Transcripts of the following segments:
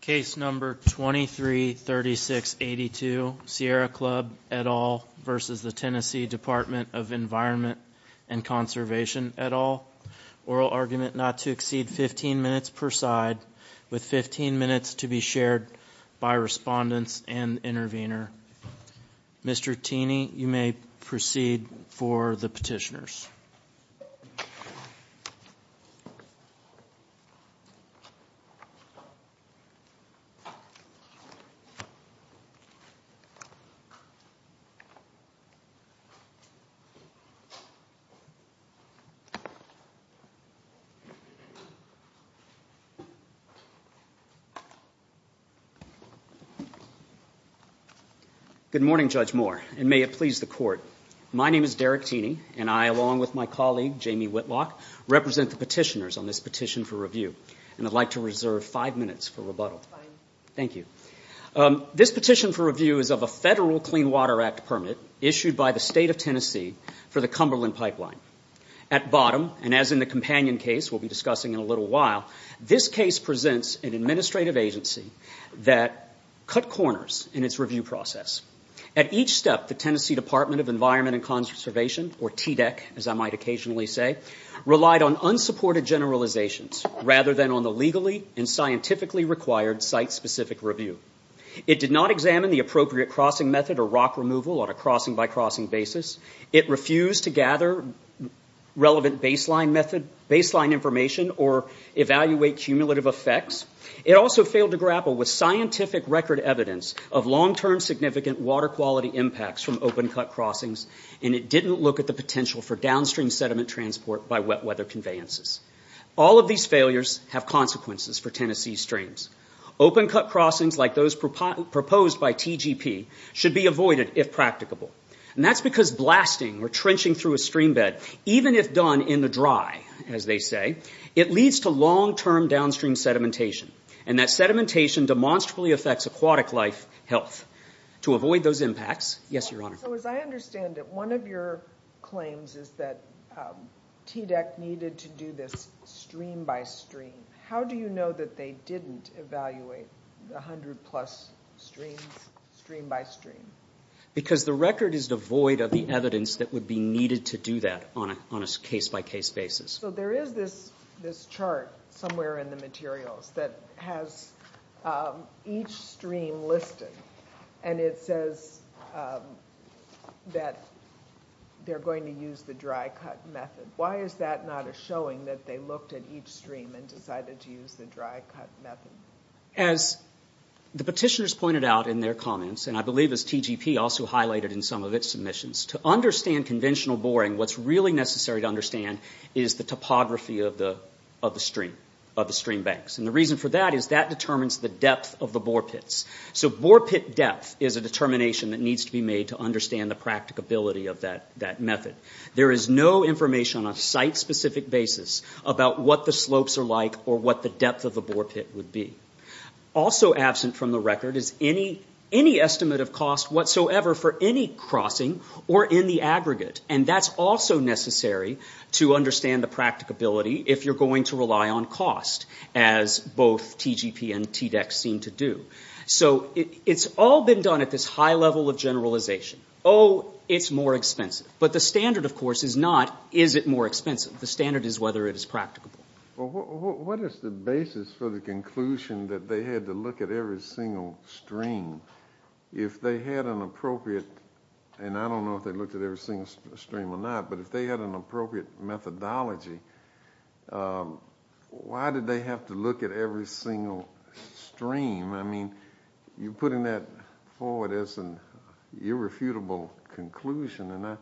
Case number 233682, Sierra Club, et al. v. TN Department of Environment and Conservation, et al. Oral argument not to exceed 15 minutes per side, with 15 minutes to be shared by respondents and the intervener. Mr. Tini, you may proceed for the petitioners. Good morning, Judge Moore, and may it please the Court. My name is Derek Tini, and I, along with my colleague, Jamie Whitlock, represent the petitioners on this petition for review. And I'd like to reserve five minutes for rebuttal. Thank you. This petition for review is of a Federal Clean Water Act permit issued by the State of Tennessee for the Cumberland Pipeline. At bottom, and as in the companion case we'll be discussing in a little while, this case presents an administrative agency that cut corners in its review process. At each step, the Tennessee Department of Environment and Conservation, or TDEC as I might occasionally say, relied on unsupported generalizations rather than on the legally and scientifically required site-specific review. It did not examine the appropriate crossing method or rock removal on a crossing-by-crossing basis. It refused to gather relevant baseline information or evaluate cumulative effects. It also failed to grapple with scientific record evidence of long-term significant water quality impacts from open-cut crossings, and it didn't look at the potential for downstream sediment transport by wet weather conveyances. All of these failures have consequences for Tennessee streams. Open-cut crossings, like those proposed by TGP, should be avoided if practicable. And that's because blasting or trenching through a stream bed, even if done in the dry, as they say, it leads to long-term downstream sedimentation. And that sedimentation demonstrably affects aquatic life health. To avoid those impacts, yes, Your Honor. So as I understand it, one of your claims is that TDEC needed to do this stream-by-stream. How do you know that they didn't evaluate 100-plus streams stream-by-stream? Because the record is devoid of the evidence that would be needed to do that on a case-by-case basis. So there is this chart somewhere in the materials that has each stream listed, and it says that they're going to use the dry-cut method. Why is that not a showing that they looked at each stream and decided to use the dry-cut method? As the petitioners pointed out in their comments, and I believe as TGP also highlighted in some of its submissions, to understand conventional boring, what's really necessary to understand is the topography of the stream banks. And the reason for that is that determines the depth of the bore pits. So bore pit depth is a determination that needs to be made to understand the practicability of that method. There is no information on a site-specific basis about what the slopes are like or what the depth of the bore pit would be. Also absent from the record is any estimate of cost whatsoever for any crossing or in the aggregate. And that's also necessary to understand the practicability if you're going to rely on cost, as both TGP and TDEX seem to do. So it's all been done at this high level of generalization. Oh, it's more expensive. But the standard, of course, is not is it more expensive. The standard is whether it is practicable. Well, what is the basis for the conclusion that they had to look at every single stream? If they had an appropriate, and I don't know if they looked at every single stream or not, but if they had an appropriate methodology, why did they have to look at every single stream? I mean, you're putting that forward as an irrefutable conclusion, and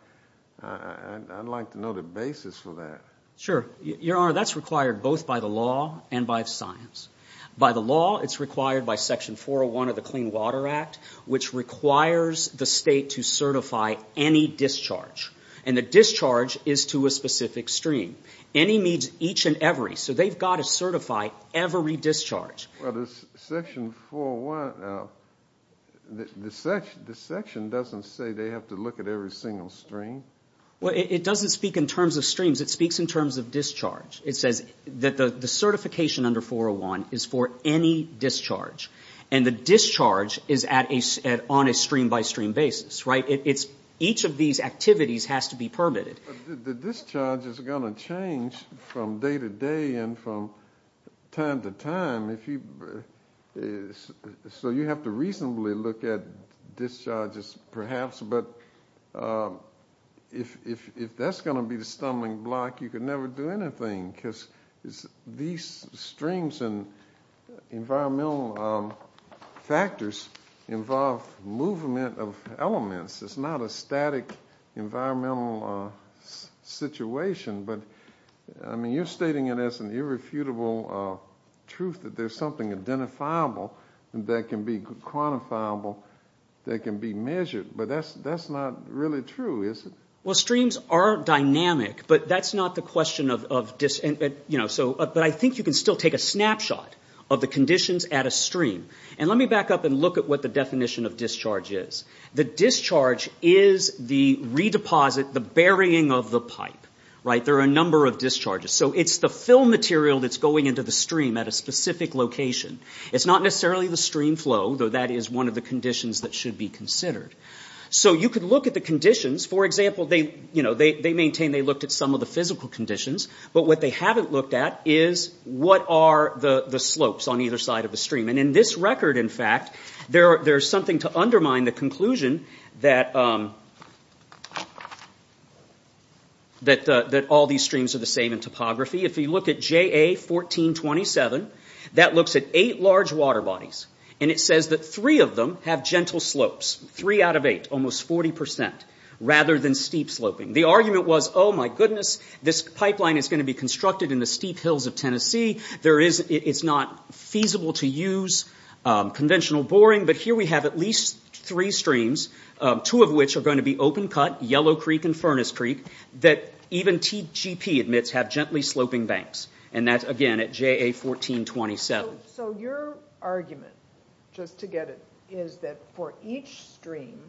I'd like to know the basis for that. Sure. Your Honor, that's required both by the law and by the science. By the law, it's required by Section 401 of the Clean Water Act, which requires the state to certify any discharge. And the discharge is to a specific stream. Any means each and every. So they've got to certify every discharge. Well, the Section 401, the section doesn't say they have to look at every single stream. Well, it doesn't speak in terms of streams. It speaks in terms of discharge. It says that the certification under 401 is for any discharge. And the discharge is on a stream-by-stream basis, right? Each of these activities has to be permitted. The discharge is going to change from day to day and from time to time. So you have to reasonably look at discharges, perhaps. But if that's going to be the stumbling block, you can never do anything because these streams and environmental factors involve movement of elements. It's not a static environmental situation. But, I mean, you're stating it as an irrefutable truth that there's something identifiable that can be quantifiable, that can be measured. But that's not really true, is it? Well, streams are dynamic, but that's not the question of discharges. But I think you can still take a snapshot of the conditions at a stream. And let me back up and look at what the definition of discharge is. The discharge is the redeposit, the burying of the pipe, right? There are a number of discharges. So it's the fill material that's going into the stream at a specific location. It's not necessarily the stream flow, though that is one of the conditions that should be considered. So you could look at the conditions. For example, they maintain they looked at some of the physical conditions. But what they haven't looked at is what are the slopes on either side of the stream. And in this record, in fact, there's something to undermine the conclusion that all these streams are the same in topography. If you look at JA 1427, that looks at eight large water bodies. And it says that three of them have gentle slopes, three out of eight, almost 40 percent, rather than steep sloping. The argument was, oh, my goodness, this pipeline is going to be constructed in the steep hills of Tennessee. It's not feasible to use conventional boring. But here we have at least three streams, two of which are going to be open cut, Yellow Creek and Furnace Creek, that even TGP admits have gently sloping banks. And that's, again, at JA 1427. So your argument, just to get it, is that for each stream,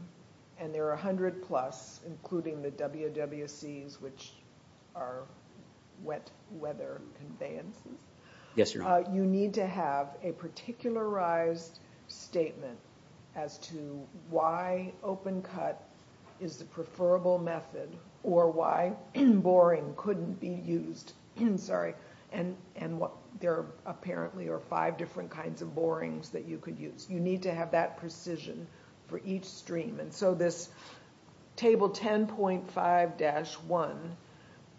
and there are 100 plus, including the WWCs, which are wet weather conveyances, you need to have a particularized statement as to why open cut is the preferable method or why boring couldn't be used. And there apparently are five different kinds of borings that you could use. You need to have that precision for each stream. And so this Table 10.5-1,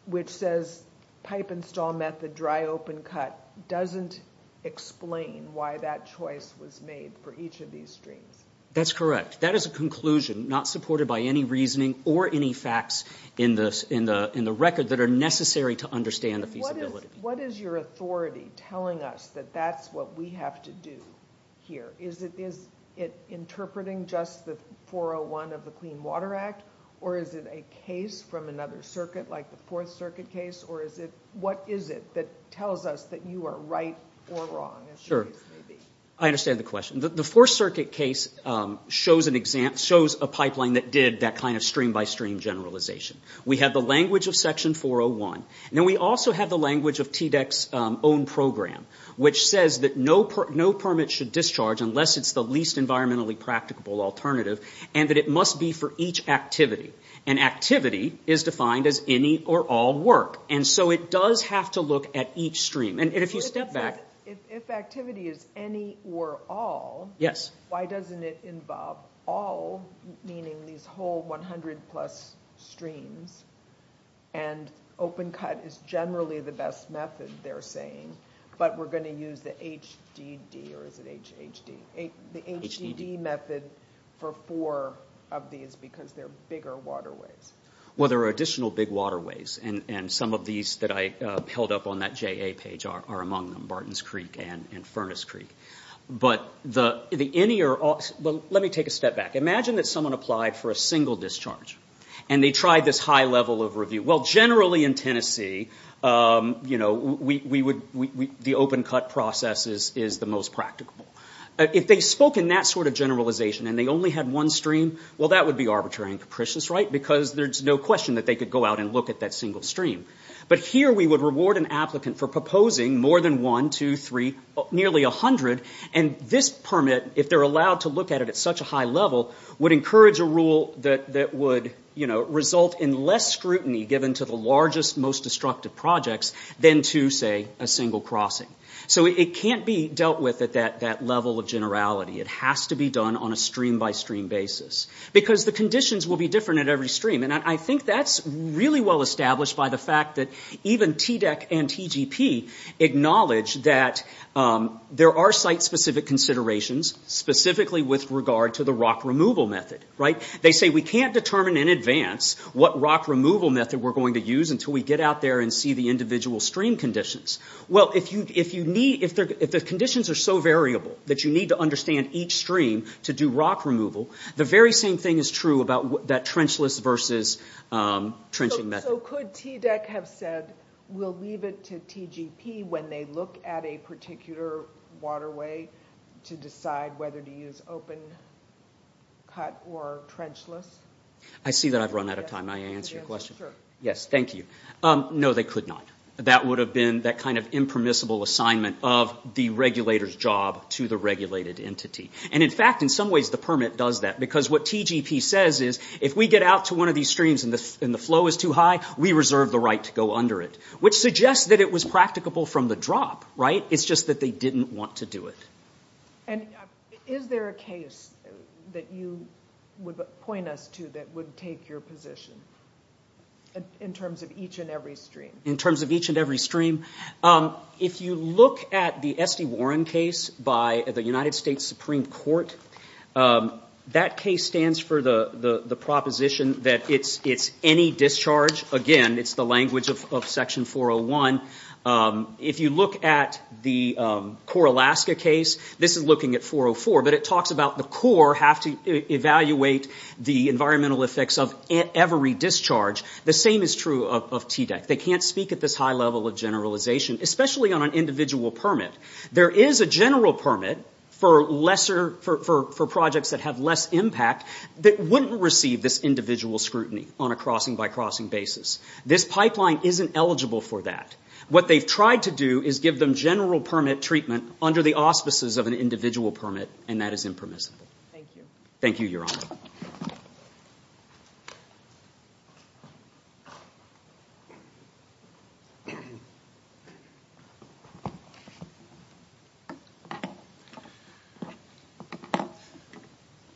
which says pipe install method, dry open cut, doesn't explain why that choice was made for each of these streams. That's correct. That is a conclusion not supported by any reasoning or any facts in the record that are necessary to understand the feasibility. What is your authority telling us that that's what we have to do here? Is it interpreting just the 401 of the Clean Water Act? Or is it a case from another circuit, like the Fourth Circuit case? Or what is it that tells us that you are right or wrong, as your case may be? I understand the question. The Fourth Circuit case shows a pipeline that did that kind of stream-by-stream generalization. We have the language of Section 401. And then we also have the language of TDEC's own program, which says that no permit should discharge unless it's the least environmentally practicable alternative, and that it must be for each activity. And activity is defined as any or all work. And so it does have to look at each stream. If activity is any or all, why doesn't it involve all, meaning these whole 100-plus streams, and open-cut is generally the best method, they're saying, but we're going to use the HDD method for four of these because they're bigger waterways? Well, there are additional big waterways. And some of these that I held up on that JA page are among them, Barton's Creek and Furnace Creek. But the any or all, well, let me take a step back. Imagine that someone applied for a single discharge, and they tried this high level of review. Well, generally in Tennessee, the open-cut process is the most practicable. If they spoke in that sort of generalization and they only had one stream, well, that would be arbitrary and capricious, right? Because there's no question that they could go out and look at that single stream. But here we would reward an applicant for proposing more than one, two, three, nearly 100. And this permit, if they're allowed to look at it at such a high level, would encourage a rule that would result in less scrutiny given to the largest, most destructive projects than to, say, a single crossing. So it can't be dealt with at that level of generality. It has to be done on a stream-by-stream basis. Because the conditions will be different at every stream. And I think that's really well established by the fact that even TDEC and TGP acknowledge that there are site-specific considerations, specifically with regard to the rock removal method, right? They say we can't determine in advance what rock removal method we're going to use until we get out there and see the individual stream conditions. Well, if the conditions are so variable that you need to understand each stream to do rock removal, the very same thing is true about that trenchless versus trenching method. So could TDEC have said we'll leave it to TGP when they look at a particular waterway to decide whether to use open, cut, or trenchless? I see that I've run out of time. May I answer your question? Sure. Yes, thank you. No, they could not. That would have been that kind of impermissible assignment of the regulator's job to the regulated entity. And, in fact, in some ways the permit does that because what TGP says is if we get out to one of these streams and the flow is too high, we reserve the right to go under it, which suggests that it was practicable from the drop, right? It's just that they didn't want to do it. And is there a case that you would point us to that would take your position in terms of each and every stream? In terms of each and every stream? If you look at the Esty Warren case by the United States Supreme Court, that case stands for the proposition that it's any discharge. Again, it's the language of Section 401. If you look at the CORE Alaska case, this is looking at 404, but it talks about the CORE have to evaluate the environmental effects of every discharge. The same is true of TDEC. They can't speak at this high level of generalization, especially on an individual permit. There is a general permit for projects that have less impact that wouldn't receive this individual scrutiny on a crossing-by-crossing basis. This pipeline isn't eligible for that. What they've tried to do is give them general permit treatment under the auspices of an individual permit, and that is impermissible. Thank you. Thank you, Your Honor.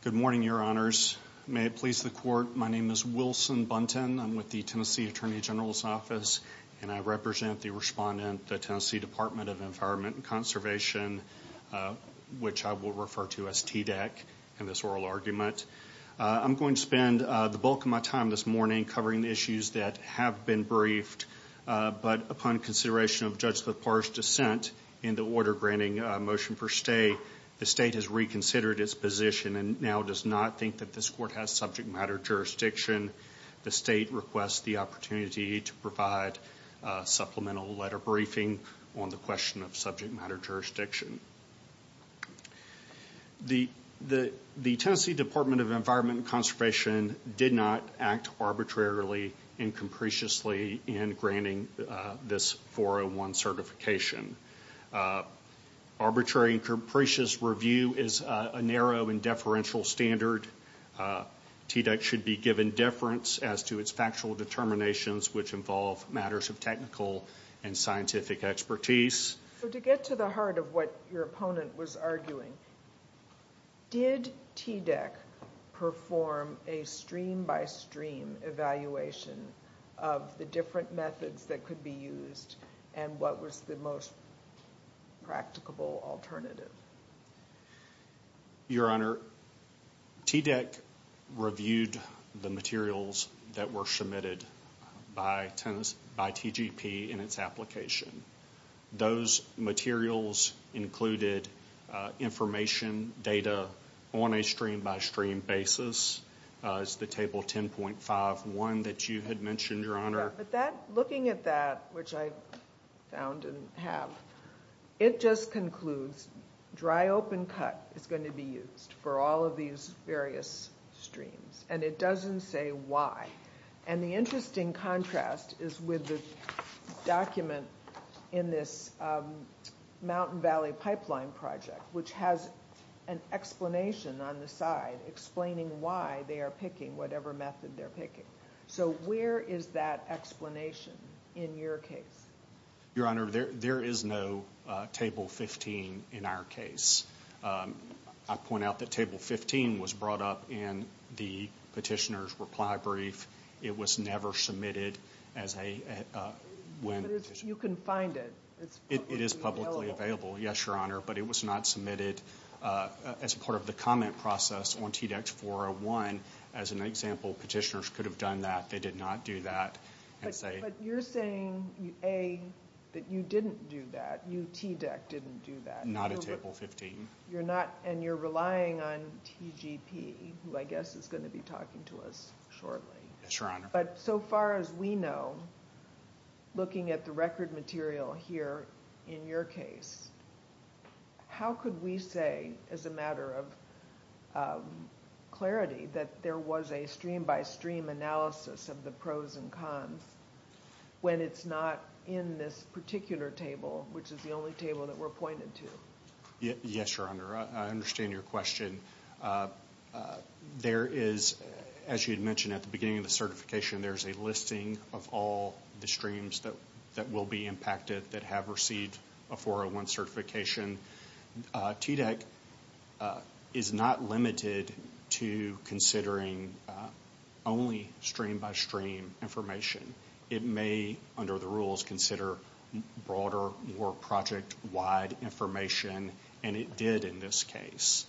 Good morning, Your Honors. May it please the Court, my name is Wilson Buntin. I'm with the Tennessee Attorney General's Office, and I represent the respondent, the Tennessee Department of Environment and Conservation, which I will refer to as TDEC in this oral argument. I'm going to spend the bulk of my time this morning covering the issues that have been briefed, but upon consideration of Judge LaPard's dissent in the order-granting motion for stay, the State has reconsidered its position and now does not think that this Court has subject-matter jurisdiction. The State requests the opportunity to provide supplemental letter briefing on the question of subject-matter jurisdiction. The Tennessee Department of Environment and Conservation did not act arbitrarily and capriciously in granting this 401 certification. Arbitrary and capricious review is a narrow and deferential standard. TDEC should be given deference as to its factual determinations, which involve matters of technical and scientific expertise. To get to the heart of what your opponent was arguing, did TDEC perform a stream-by-stream evaluation of the different methods that could be used and what was the most practicable alternative? Your Honor, TDEC reviewed the materials that were submitted by TGP in its application. Those materials included information data on a stream-by-stream basis. It's the Table 10.51 that you had mentioned, Your Honor. But looking at that, which I found and have, it just concludes dry-open-cut is going to be used for all of these various streams, and it doesn't say why. And the interesting contrast is with the document in this Mountain Valley Pipeline Project, which has an explanation on the side explaining why they are picking whatever method they're picking. So where is that explanation in your case? Your Honor, there is no Table 15 in our case. I point out that Table 15 was brought up in the petitioner's reply brief. It was never submitted as a win petition. But you can find it. It is publicly available, yes, Your Honor, but it was not submitted as part of the comment process on TDEC 401. As an example, petitioners could have done that. They did not do that. But you're saying, A, that you didn't do that, you, TDEC, didn't do that. Not a Table 15. And you're relying on TGP, who I guess is going to be talking to us shortly. Yes, Your Honor. But so far as we know, looking at the record material here in your case, how could we say as a matter of clarity that there was a stream-by-stream analysis of the pros and cons when it's not in this particular table, which is the only table that we're pointed to? Yes, Your Honor. I understand your question. There is, as you had mentioned at the beginning of the certification, there's a listing of all the streams that will be impacted that have received a 401 certification. TDEC is not limited to considering only stream-by-stream information. It may, under the rules, consider broader, more project-wide information, and it did in this case.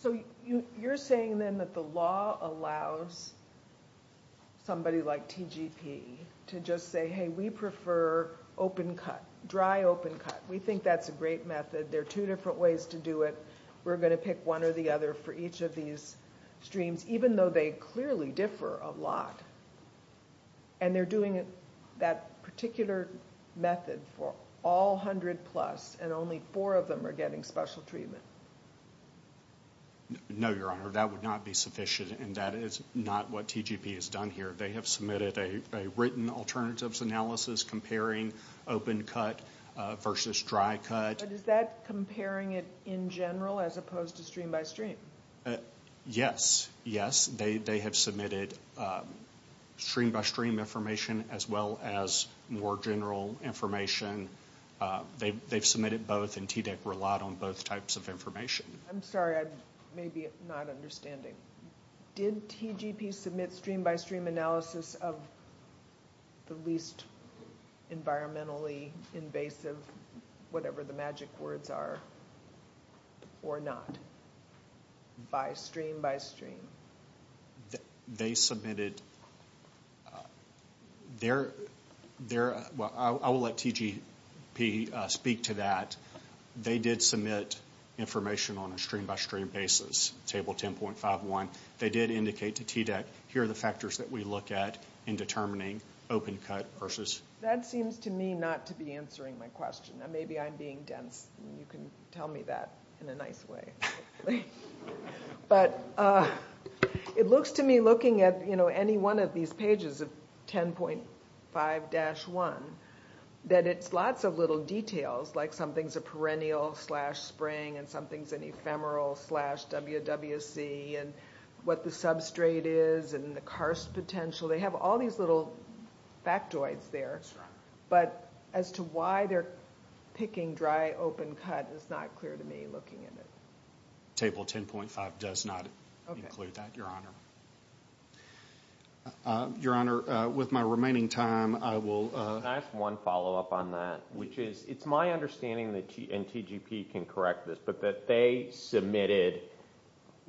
So you're saying then that the law allows somebody like TGP to just say, hey, we prefer open-cut, dry open-cut. We think that's a great method. There are two different ways to do it. We're going to pick one or the other for each of these streams, even though they clearly differ a lot. And they're doing that particular method for all 100-plus, and only four of them are getting special treatment. No, Your Honor, that would not be sufficient, and that is not what TGP has done here. They have submitted a written alternatives analysis comparing open-cut versus dry-cut. But is that comparing it in general as opposed to stream-by-stream? Yes. Yes, they have submitted stream-by-stream information as well as more general information. They've submitted both, and TDEC relied on both types of information. I'm sorry, I may be not understanding. Did TGP submit stream-by-stream analysis of the least environmentally invasive, whatever the magic words are, or not? By stream-by-stream. They submitted their, well, I will let TGP speak to that. They did submit information on a stream-by-stream basis, table 10.51. They did indicate to TDEC, here are the factors that we look at in determining open-cut versus. That seems to me not to be answering my question. Maybe I'm being dense, and you can tell me that in a nice way. But it looks to me, looking at any one of these pages of 10.5-1, that it's lots of little details, like something's a perennial slash spring, and something's an ephemeral slash WWC, and what the substrate is, and the karst potential. They have all these little factoids there. But as to why they're picking dry, open-cut is not clear to me, looking at it. Table 10.5 does not include that, Your Honor. Your Honor, with my remaining time, I will. Can I ask one follow-up on that? It's my understanding, and TGP can correct this, but that they submitted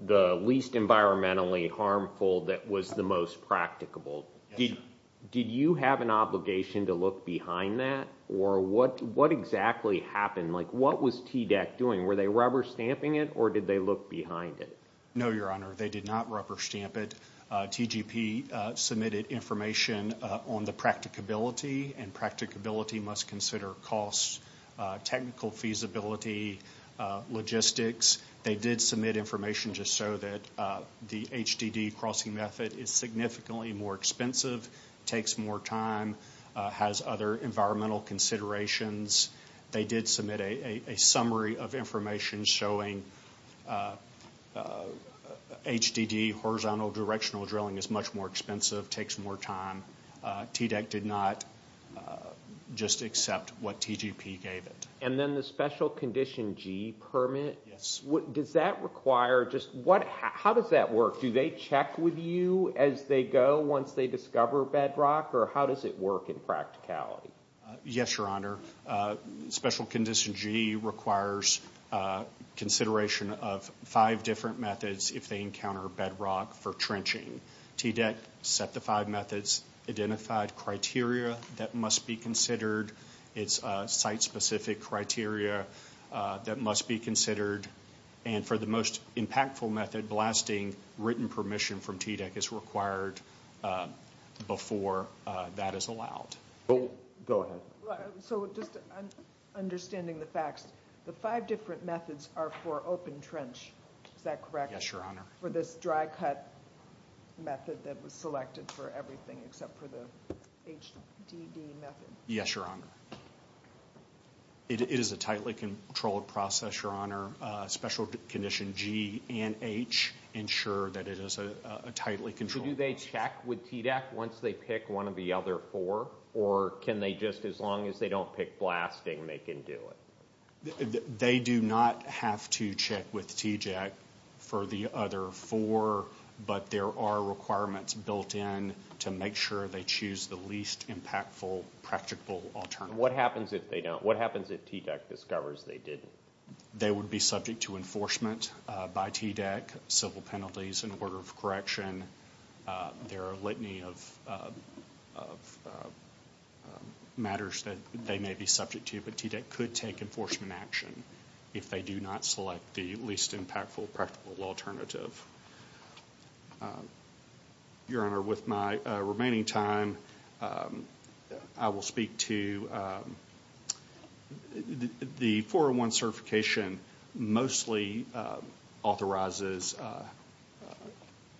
the least environmentally harmful that was the most practicable. Did you have an obligation to look behind that, or what exactly happened? What was TDEC doing? Were they rubber stamping it, or did they look behind it? No, Your Honor, they did not rubber stamp it. TGP submitted information on the practicability, and practicability must consider costs, technical feasibility, logistics. They did submit information just so that the HDD crossing method is significantly more expensive, takes more time, has other environmental considerations. They did submit a summary of information showing HDD, horizontal directional drilling, is much more expensive, takes more time. TDEC did not just accept what TGP gave it. And then the Special Condition G permit? Yes. Does that require just what, how does that work? Do they check with you as they go once they discover bedrock, or how does it work in practicality? Yes, Your Honor. Special Condition G requires consideration of five different methods if they encounter bedrock for trenching. TDEC set the five methods, identified criteria that must be considered. It's site-specific criteria that must be considered. And for the most impactful method, blasting written permission from TDEC is required before that is allowed. Go ahead. So just understanding the facts, the five different methods are for open trench, is that correct? Yes, Your Honor. For this dry cut method that was selected for everything except for the HDD method? Yes, Your Honor. It is a tightly controlled process, Your Honor. Special Condition G and H ensure that it is a tightly controlled process. So do they check with TDEC once they pick one of the other four, or can they just, as long as they don't pick blasting, they can do it? They do not have to check with TDEC for the other four, but there are requirements built in to make sure they choose the least impactful practical alternative. What happens if they don't? What happens if TDEC discovers they didn't? They would be subject to enforcement by TDEC, civil penalties in order of correction. There are a litany of matters that they may be subject to, but TDEC could take enforcement action if they do not select the least impactful practical alternative. Your Honor, with my remaining time, I will speak to the 401 certification mostly authorizes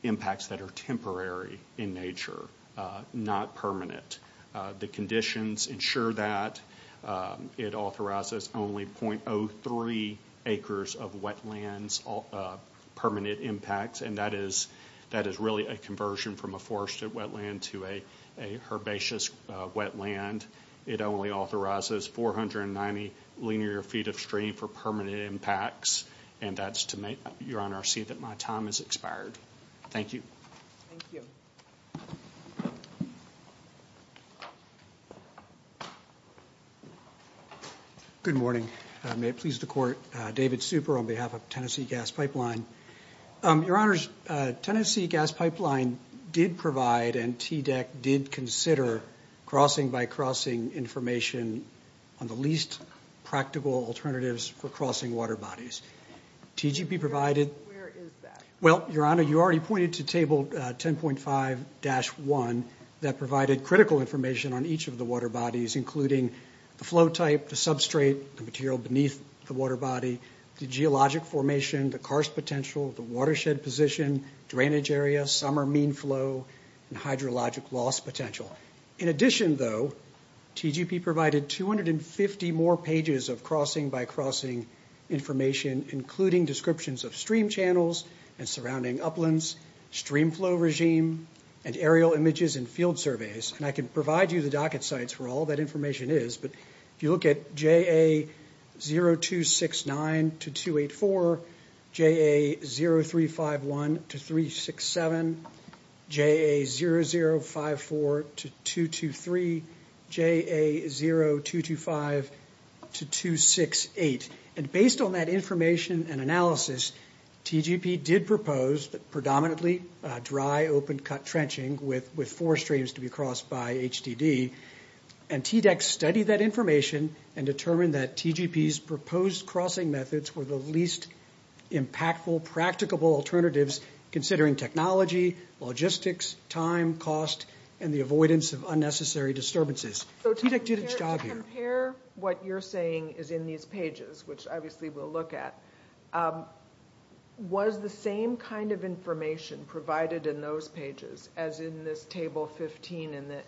impacts that are temporary in nature, not permanent. The conditions ensure that. It authorizes only .03 acres of wetlands, permanent impacts, and that is really a conversion from a forested wetland to a herbaceous wetland. It only authorizes 490 linear feet of stream for permanent impacts, and that's to make, Your Honor, see that my time has expired. Thank you. Thank you. Thank you. Good morning. May it please the Court, David Super on behalf of Tennessee Gas Pipeline. Your Honors, Tennessee Gas Pipeline did provide and TDEC did consider crossing-by-crossing information on the least practical alternatives for crossing water bodies. TGP provided- Where is that? Well, Your Honor, you already pointed to Table 10.5-1 that provided critical information on each of the water bodies, including the flow type, the substrate, the material beneath the water body, the geologic formation, the karst potential, the watershed position, drainage area, summer mean flow, and hydrologic loss potential. In addition, though, TGP provided 250 more pages of crossing-by-crossing information, including descriptions of stream channels and surrounding uplands, stream flow regime, and aerial images and field surveys. And I can provide you the docket sites for all that information is, but if you look at JA0269-284, JA0351-367, JA0054-223, JA0225-268. And based on that information and analysis, TGP did propose predominantly dry, open-cut trenching with forest streams to be crossed by HTD. And TDEC studied that information and determined that TGP's proposed crossing methods were the least impactful, practicable alternatives, considering technology, logistics, time, cost, and the avoidance of unnecessary disturbances. So to compare what you're saying is in these pages, which obviously we'll look at, was the same kind of information provided in those pages as in this Table 15 in the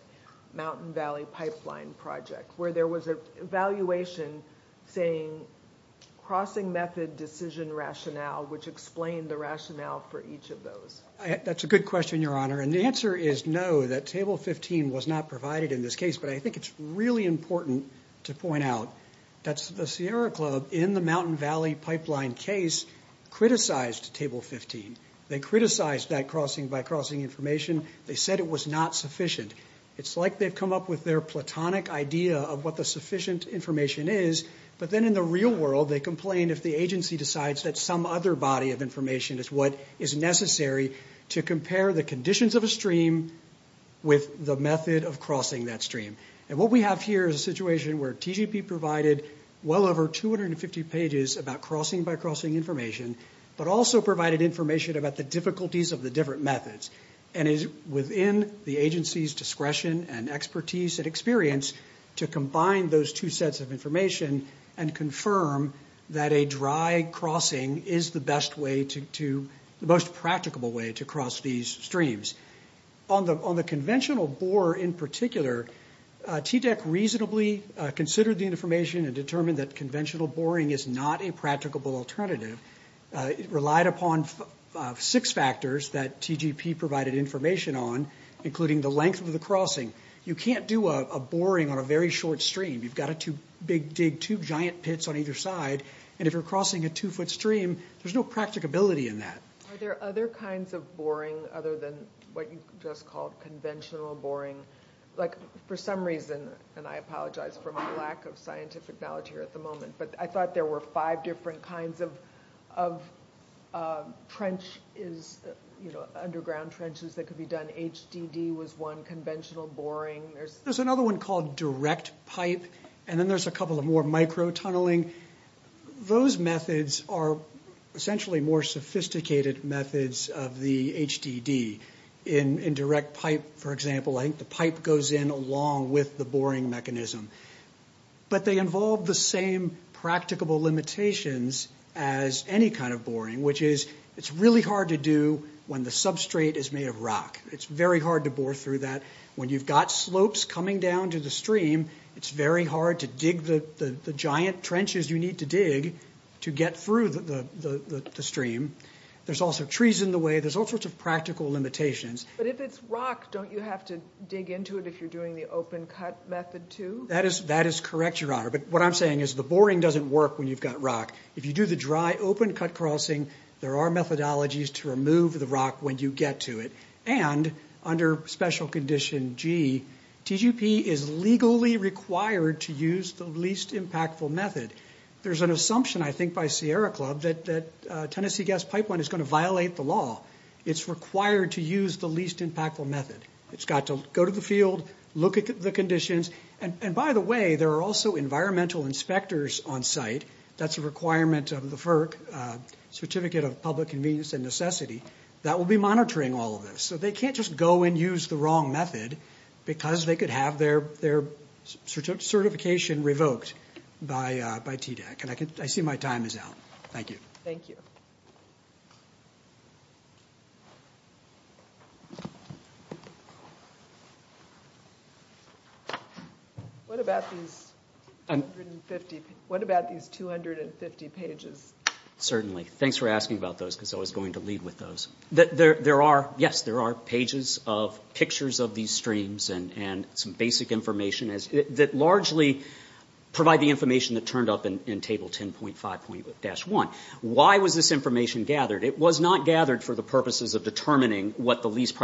Mountain Valley Pipeline Project, where there was an evaluation saying crossing method decision rationale, which explained the rationale for each of those? That's a good question, Your Honor, and the answer is no, that Table 15 was not provided in this case, but I think it's really important to point out that the Sierra Club, in the Mountain Valley Pipeline case, criticized Table 15. They criticized that crossing by crossing information. They said it was not sufficient. It's like they've come up with their platonic idea of what the sufficient information is, but then in the real world they complain if the agency decides that some other body of information is what is necessary to compare the conditions of a stream with the method of crossing that stream. And what we have here is a situation where TGP provided well over 250 pages about crossing by crossing information, but also provided information about the difficulties of the different methods, and is within the agency's discretion and expertise and experience to combine those two sets of information and confirm that a dry crossing is the best way to... the most practicable way to cross these streams. On the conventional bore in particular, TDEC reasonably considered the information and determined that conventional boring is not a practicable alternative. It relied upon six factors that TGP provided information on, including the length of the crossing. You can't do a boring on a very short stream. You've got to dig two giant pits on either side, and if you're crossing a two-foot stream, there's no practicability in that. Are there other kinds of boring other than what you just called conventional boring? Like, for some reason, and I apologize for my lack of scientific knowledge here at the moment, but I thought there were five different kinds of trenches, you know, underground trenches that could be done. HDD was one, conventional boring. There's another one called direct pipe, and then there's a couple of more microtunneling. Those methods are essentially more sophisticated methods of the HDD. In direct pipe, for example, I think the pipe goes in along with the boring mechanism. But they involve the same practicable limitations as any kind of boring, which is, it's really hard to do when the substrate is made of rock. It's very hard to bore through that. When you've got slopes coming down to the stream, it's very hard to dig the giant trenches you need to dig to get through the stream. There's also trees in the way. There's all sorts of practical limitations. But if it's rock, don't you have to dig into it if you're doing the open-cut method, too? That is correct, Your Honor. But what I'm saying is, the boring doesn't work when you've got rock. If you do the dry open-cut crossing, there are methodologies to remove the rock when you get to it. And under Special Condition G, TGP is legally required to use the least impactful method. There's an assumption, I think, by Sierra Club, that Tennessee Gas Pipeline is going to violate the law. It's required to use the least impactful method. It's got to go to the field, look at the conditions. And by the way, there are also environmental inspectors on site. That's a requirement of the FERC, Certificate of Public Convenience and Necessity, that will be monitoring all of this. So they can't just go and use the wrong method because they could have their certification revoked by TDAC. And I see my time is out. Thank you. Thank you. What about these 250 pages? Certainly. Thanks for asking about those, because I was going to leave with those. Yes, there are pages of pictures of these streams and some basic information that largely provide the information that turned up in Table 10.5.1. Why was this information gathered? It was not gathered for the purposes of determining what the least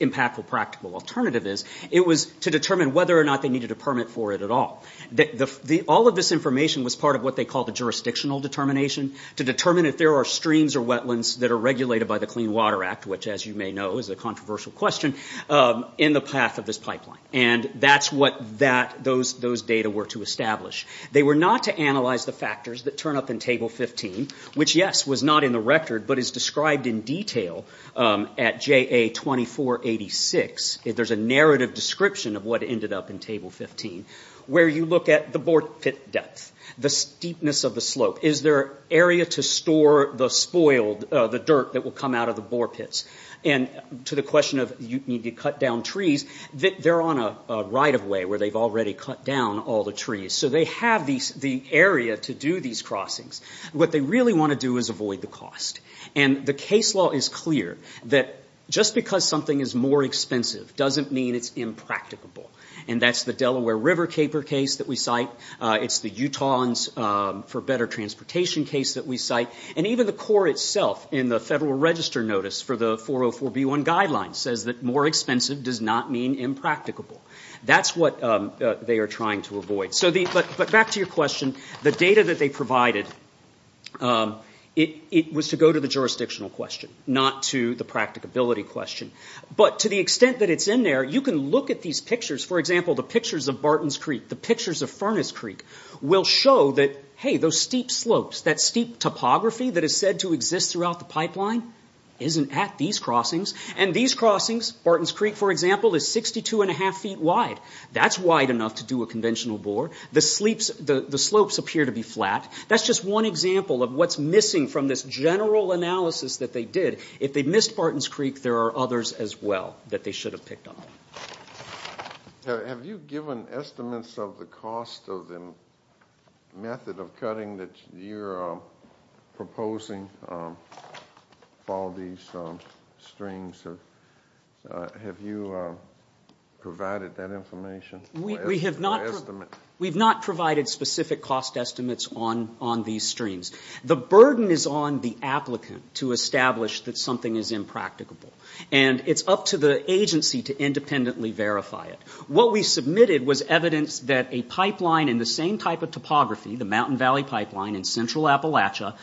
impactful practical alternative is. It was to determine whether or not they needed a permit for it at all. All of this information was part of what they call the jurisdictional determination, to determine if there are streams or wetlands that are regulated by the Clean Water Act, which, as you may know, is a controversial question, in the path of this pipeline. And that's what those data were to establish. They were not to analyze the factors that turn up in Table 15, which, yes, was not in the record, but is described in detail at JA2486. There's a narrative description of what ended up in Table 15, where you look at the bore pit depth, the steepness of the slope. Is there an area to store the spoiled dirt that will come out of the bore pits? And to the question of, you need to cut down trees, they're on a right-of-way where they've already cut down all the trees. So they have the area to do these crossings. What they really want to do is avoid the cost. And the case law is clear that just because something is more expensive doesn't mean it's impracticable. And that's the Delaware River caper case that we cite. It's the Utahans for Better Transportation case that we cite. And even the Corps itself in the Federal Register Notice for the 404B1 Guidelines says that more expensive does not mean impracticable. That's what they are trying to avoid. But back to your question. The data that they provided, it was to go to the jurisdictional question, not to the practicability question. But to the extent that it's in there, you can look at these pictures. For example, the pictures of Barton's Creek, the pictures of Furnace Creek will show that, hey, those steep slopes, that steep topography that is said to exist throughout the pipeline isn't at these crossings. And these crossings, Barton's Creek, for example, is 62 1⁄2 feet wide. That's wide enough to do a conventional bore. The slopes appear to be flat. That's just one example of what's missing from this general analysis that they did. If they missed Barton's Creek, there are others as well that they should have picked up. Have you given estimates of the cost of the method of cutting that you're proposing for all these streams? Have you provided that information? We have not provided specific cost estimates on these streams. The burden is on the applicant to establish that something is impracticable. And it's up to the agency to independently verify it. What we submitted was evidence that a pipeline in the same type of topography, the Mountain Valley Pipeline in central Appalachia,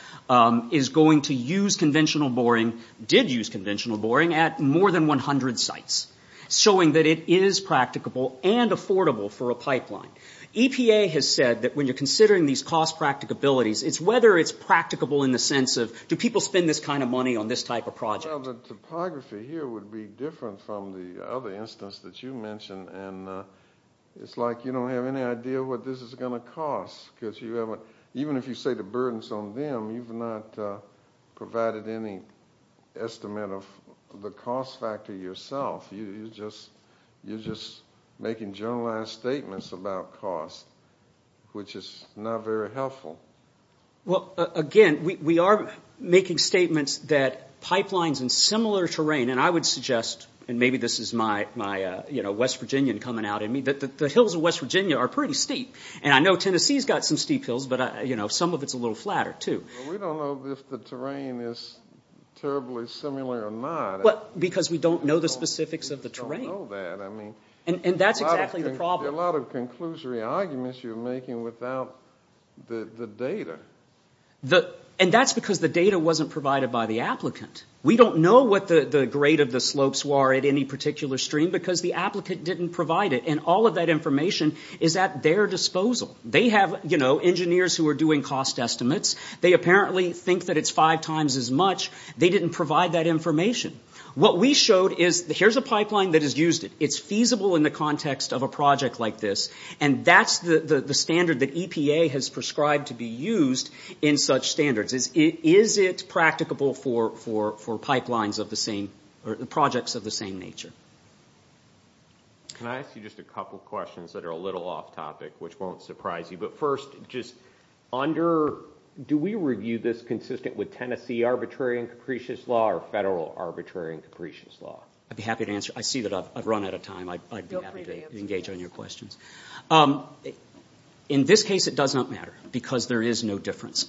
is going to use conventional boring, did use conventional boring, at more than 100 sites, showing that it is practicable and affordable for a pipeline. EPA has said that when you're considering these cost practicabilities, it's whether it's practicable in the sense of, do people spend this kind of money on this type of project? The topography here would be different from the other instance that you mentioned. It's like you don't have any idea what this is going to cost. Even if you say the burden is on them, you've not provided any estimate of the cost factor yourself. You're just making generalized statements about cost, which is not very helpful. Again, we are making statements that pipelines in similar terrain, and I would suggest, and maybe this is my West Virginian coming out in me, that the hills of West Virginia are pretty steep. And I know Tennessee has got some steep hills, but some of it is a little flatter too. We don't know if the terrain is terribly similar or not. Because we don't know the specifics of the terrain. We don't know that. And that's exactly the problem. There are a lot of conclusory arguments you're making without the data. And that's because the data wasn't provided by the applicant. We don't know what the grade of the slopes were at any particular stream because the applicant didn't provide it. And all of that information is at their disposal. They have engineers who are doing cost estimates. They apparently think that it's five times as much. They didn't provide that information. What we showed is, here's a pipeline that has used it. It's feasible in the context of a project like this, and that's the standard that EPA has prescribed to be used in such standards. Is it practicable for pipelines of the same, or projects of the same nature? Can I ask you just a couple questions that are a little off topic, which won't surprise you? But first, just under, do we review this consistent with Tennessee arbitrary and capricious law or federal arbitrary and capricious law? I'd be happy to answer. I see that I've run out of time. I'd be happy to engage on your questions. In this case, it does not matter because there is no difference.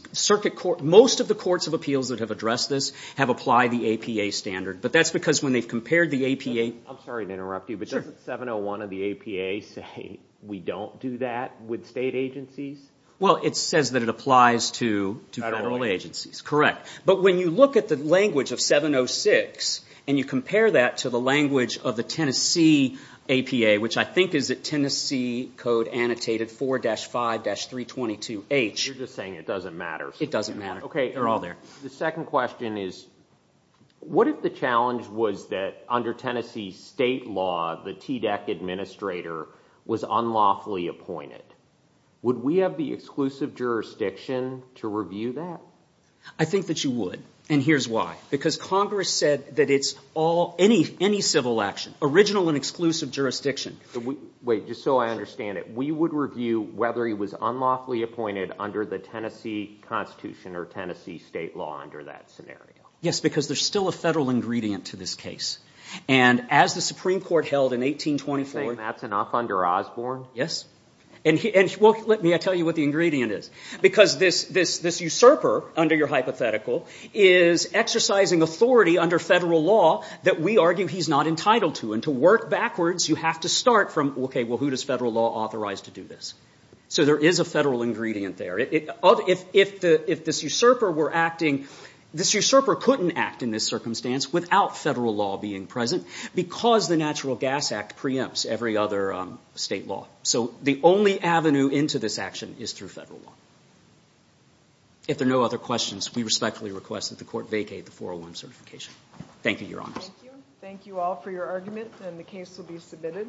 Most of the courts of appeals that have addressed this have applied the APA standard. But that's because when they've compared the APA— I'm sorry to interrupt you, but doesn't 701 of the APA say we don't do that with state agencies? Well, it says that it applies to federal agencies. Correct. But when you look at the language of 706 and you compare that to the language of the Tennessee APA, which I think is the Tennessee Code Annotated 4-5-322H— You're just saying it doesn't matter. It doesn't matter. Okay, they're all there. The second question is, what if the challenge was that under Tennessee state law, the TDEC administrator was unlawfully appointed? Would we have the exclusive jurisdiction to review that? I think that you would, and here's why. Because Congress said that it's all—any civil action, original and exclusive jurisdiction. Wait, just so I understand it, we would review whether he was unlawfully appointed under the Tennessee Constitution or Tennessee state law under that scenario? Yes, because there's still a federal ingredient to this case. And as the Supreme Court held in 1824— You're saying that's enough under Osborne? Yes. Well, let me tell you what the ingredient is. Because this usurper, under your hypothetical, is exercising authority under federal law that we argue he's not entitled to. And to work backwards, you have to start from, okay, well, who does federal law authorize to do this? So there is a federal ingredient there. If this usurper were acting— This usurper couldn't act in this circumstance without federal law being present because the Natural Gas Act preempts every other state law. So the only avenue into this action is through federal law. If there are no other questions, we respectfully request that the Court vacate the 401 certification. Thank you, Your Honors. Thank you. Thank you all for your argument, and the case will be submitted.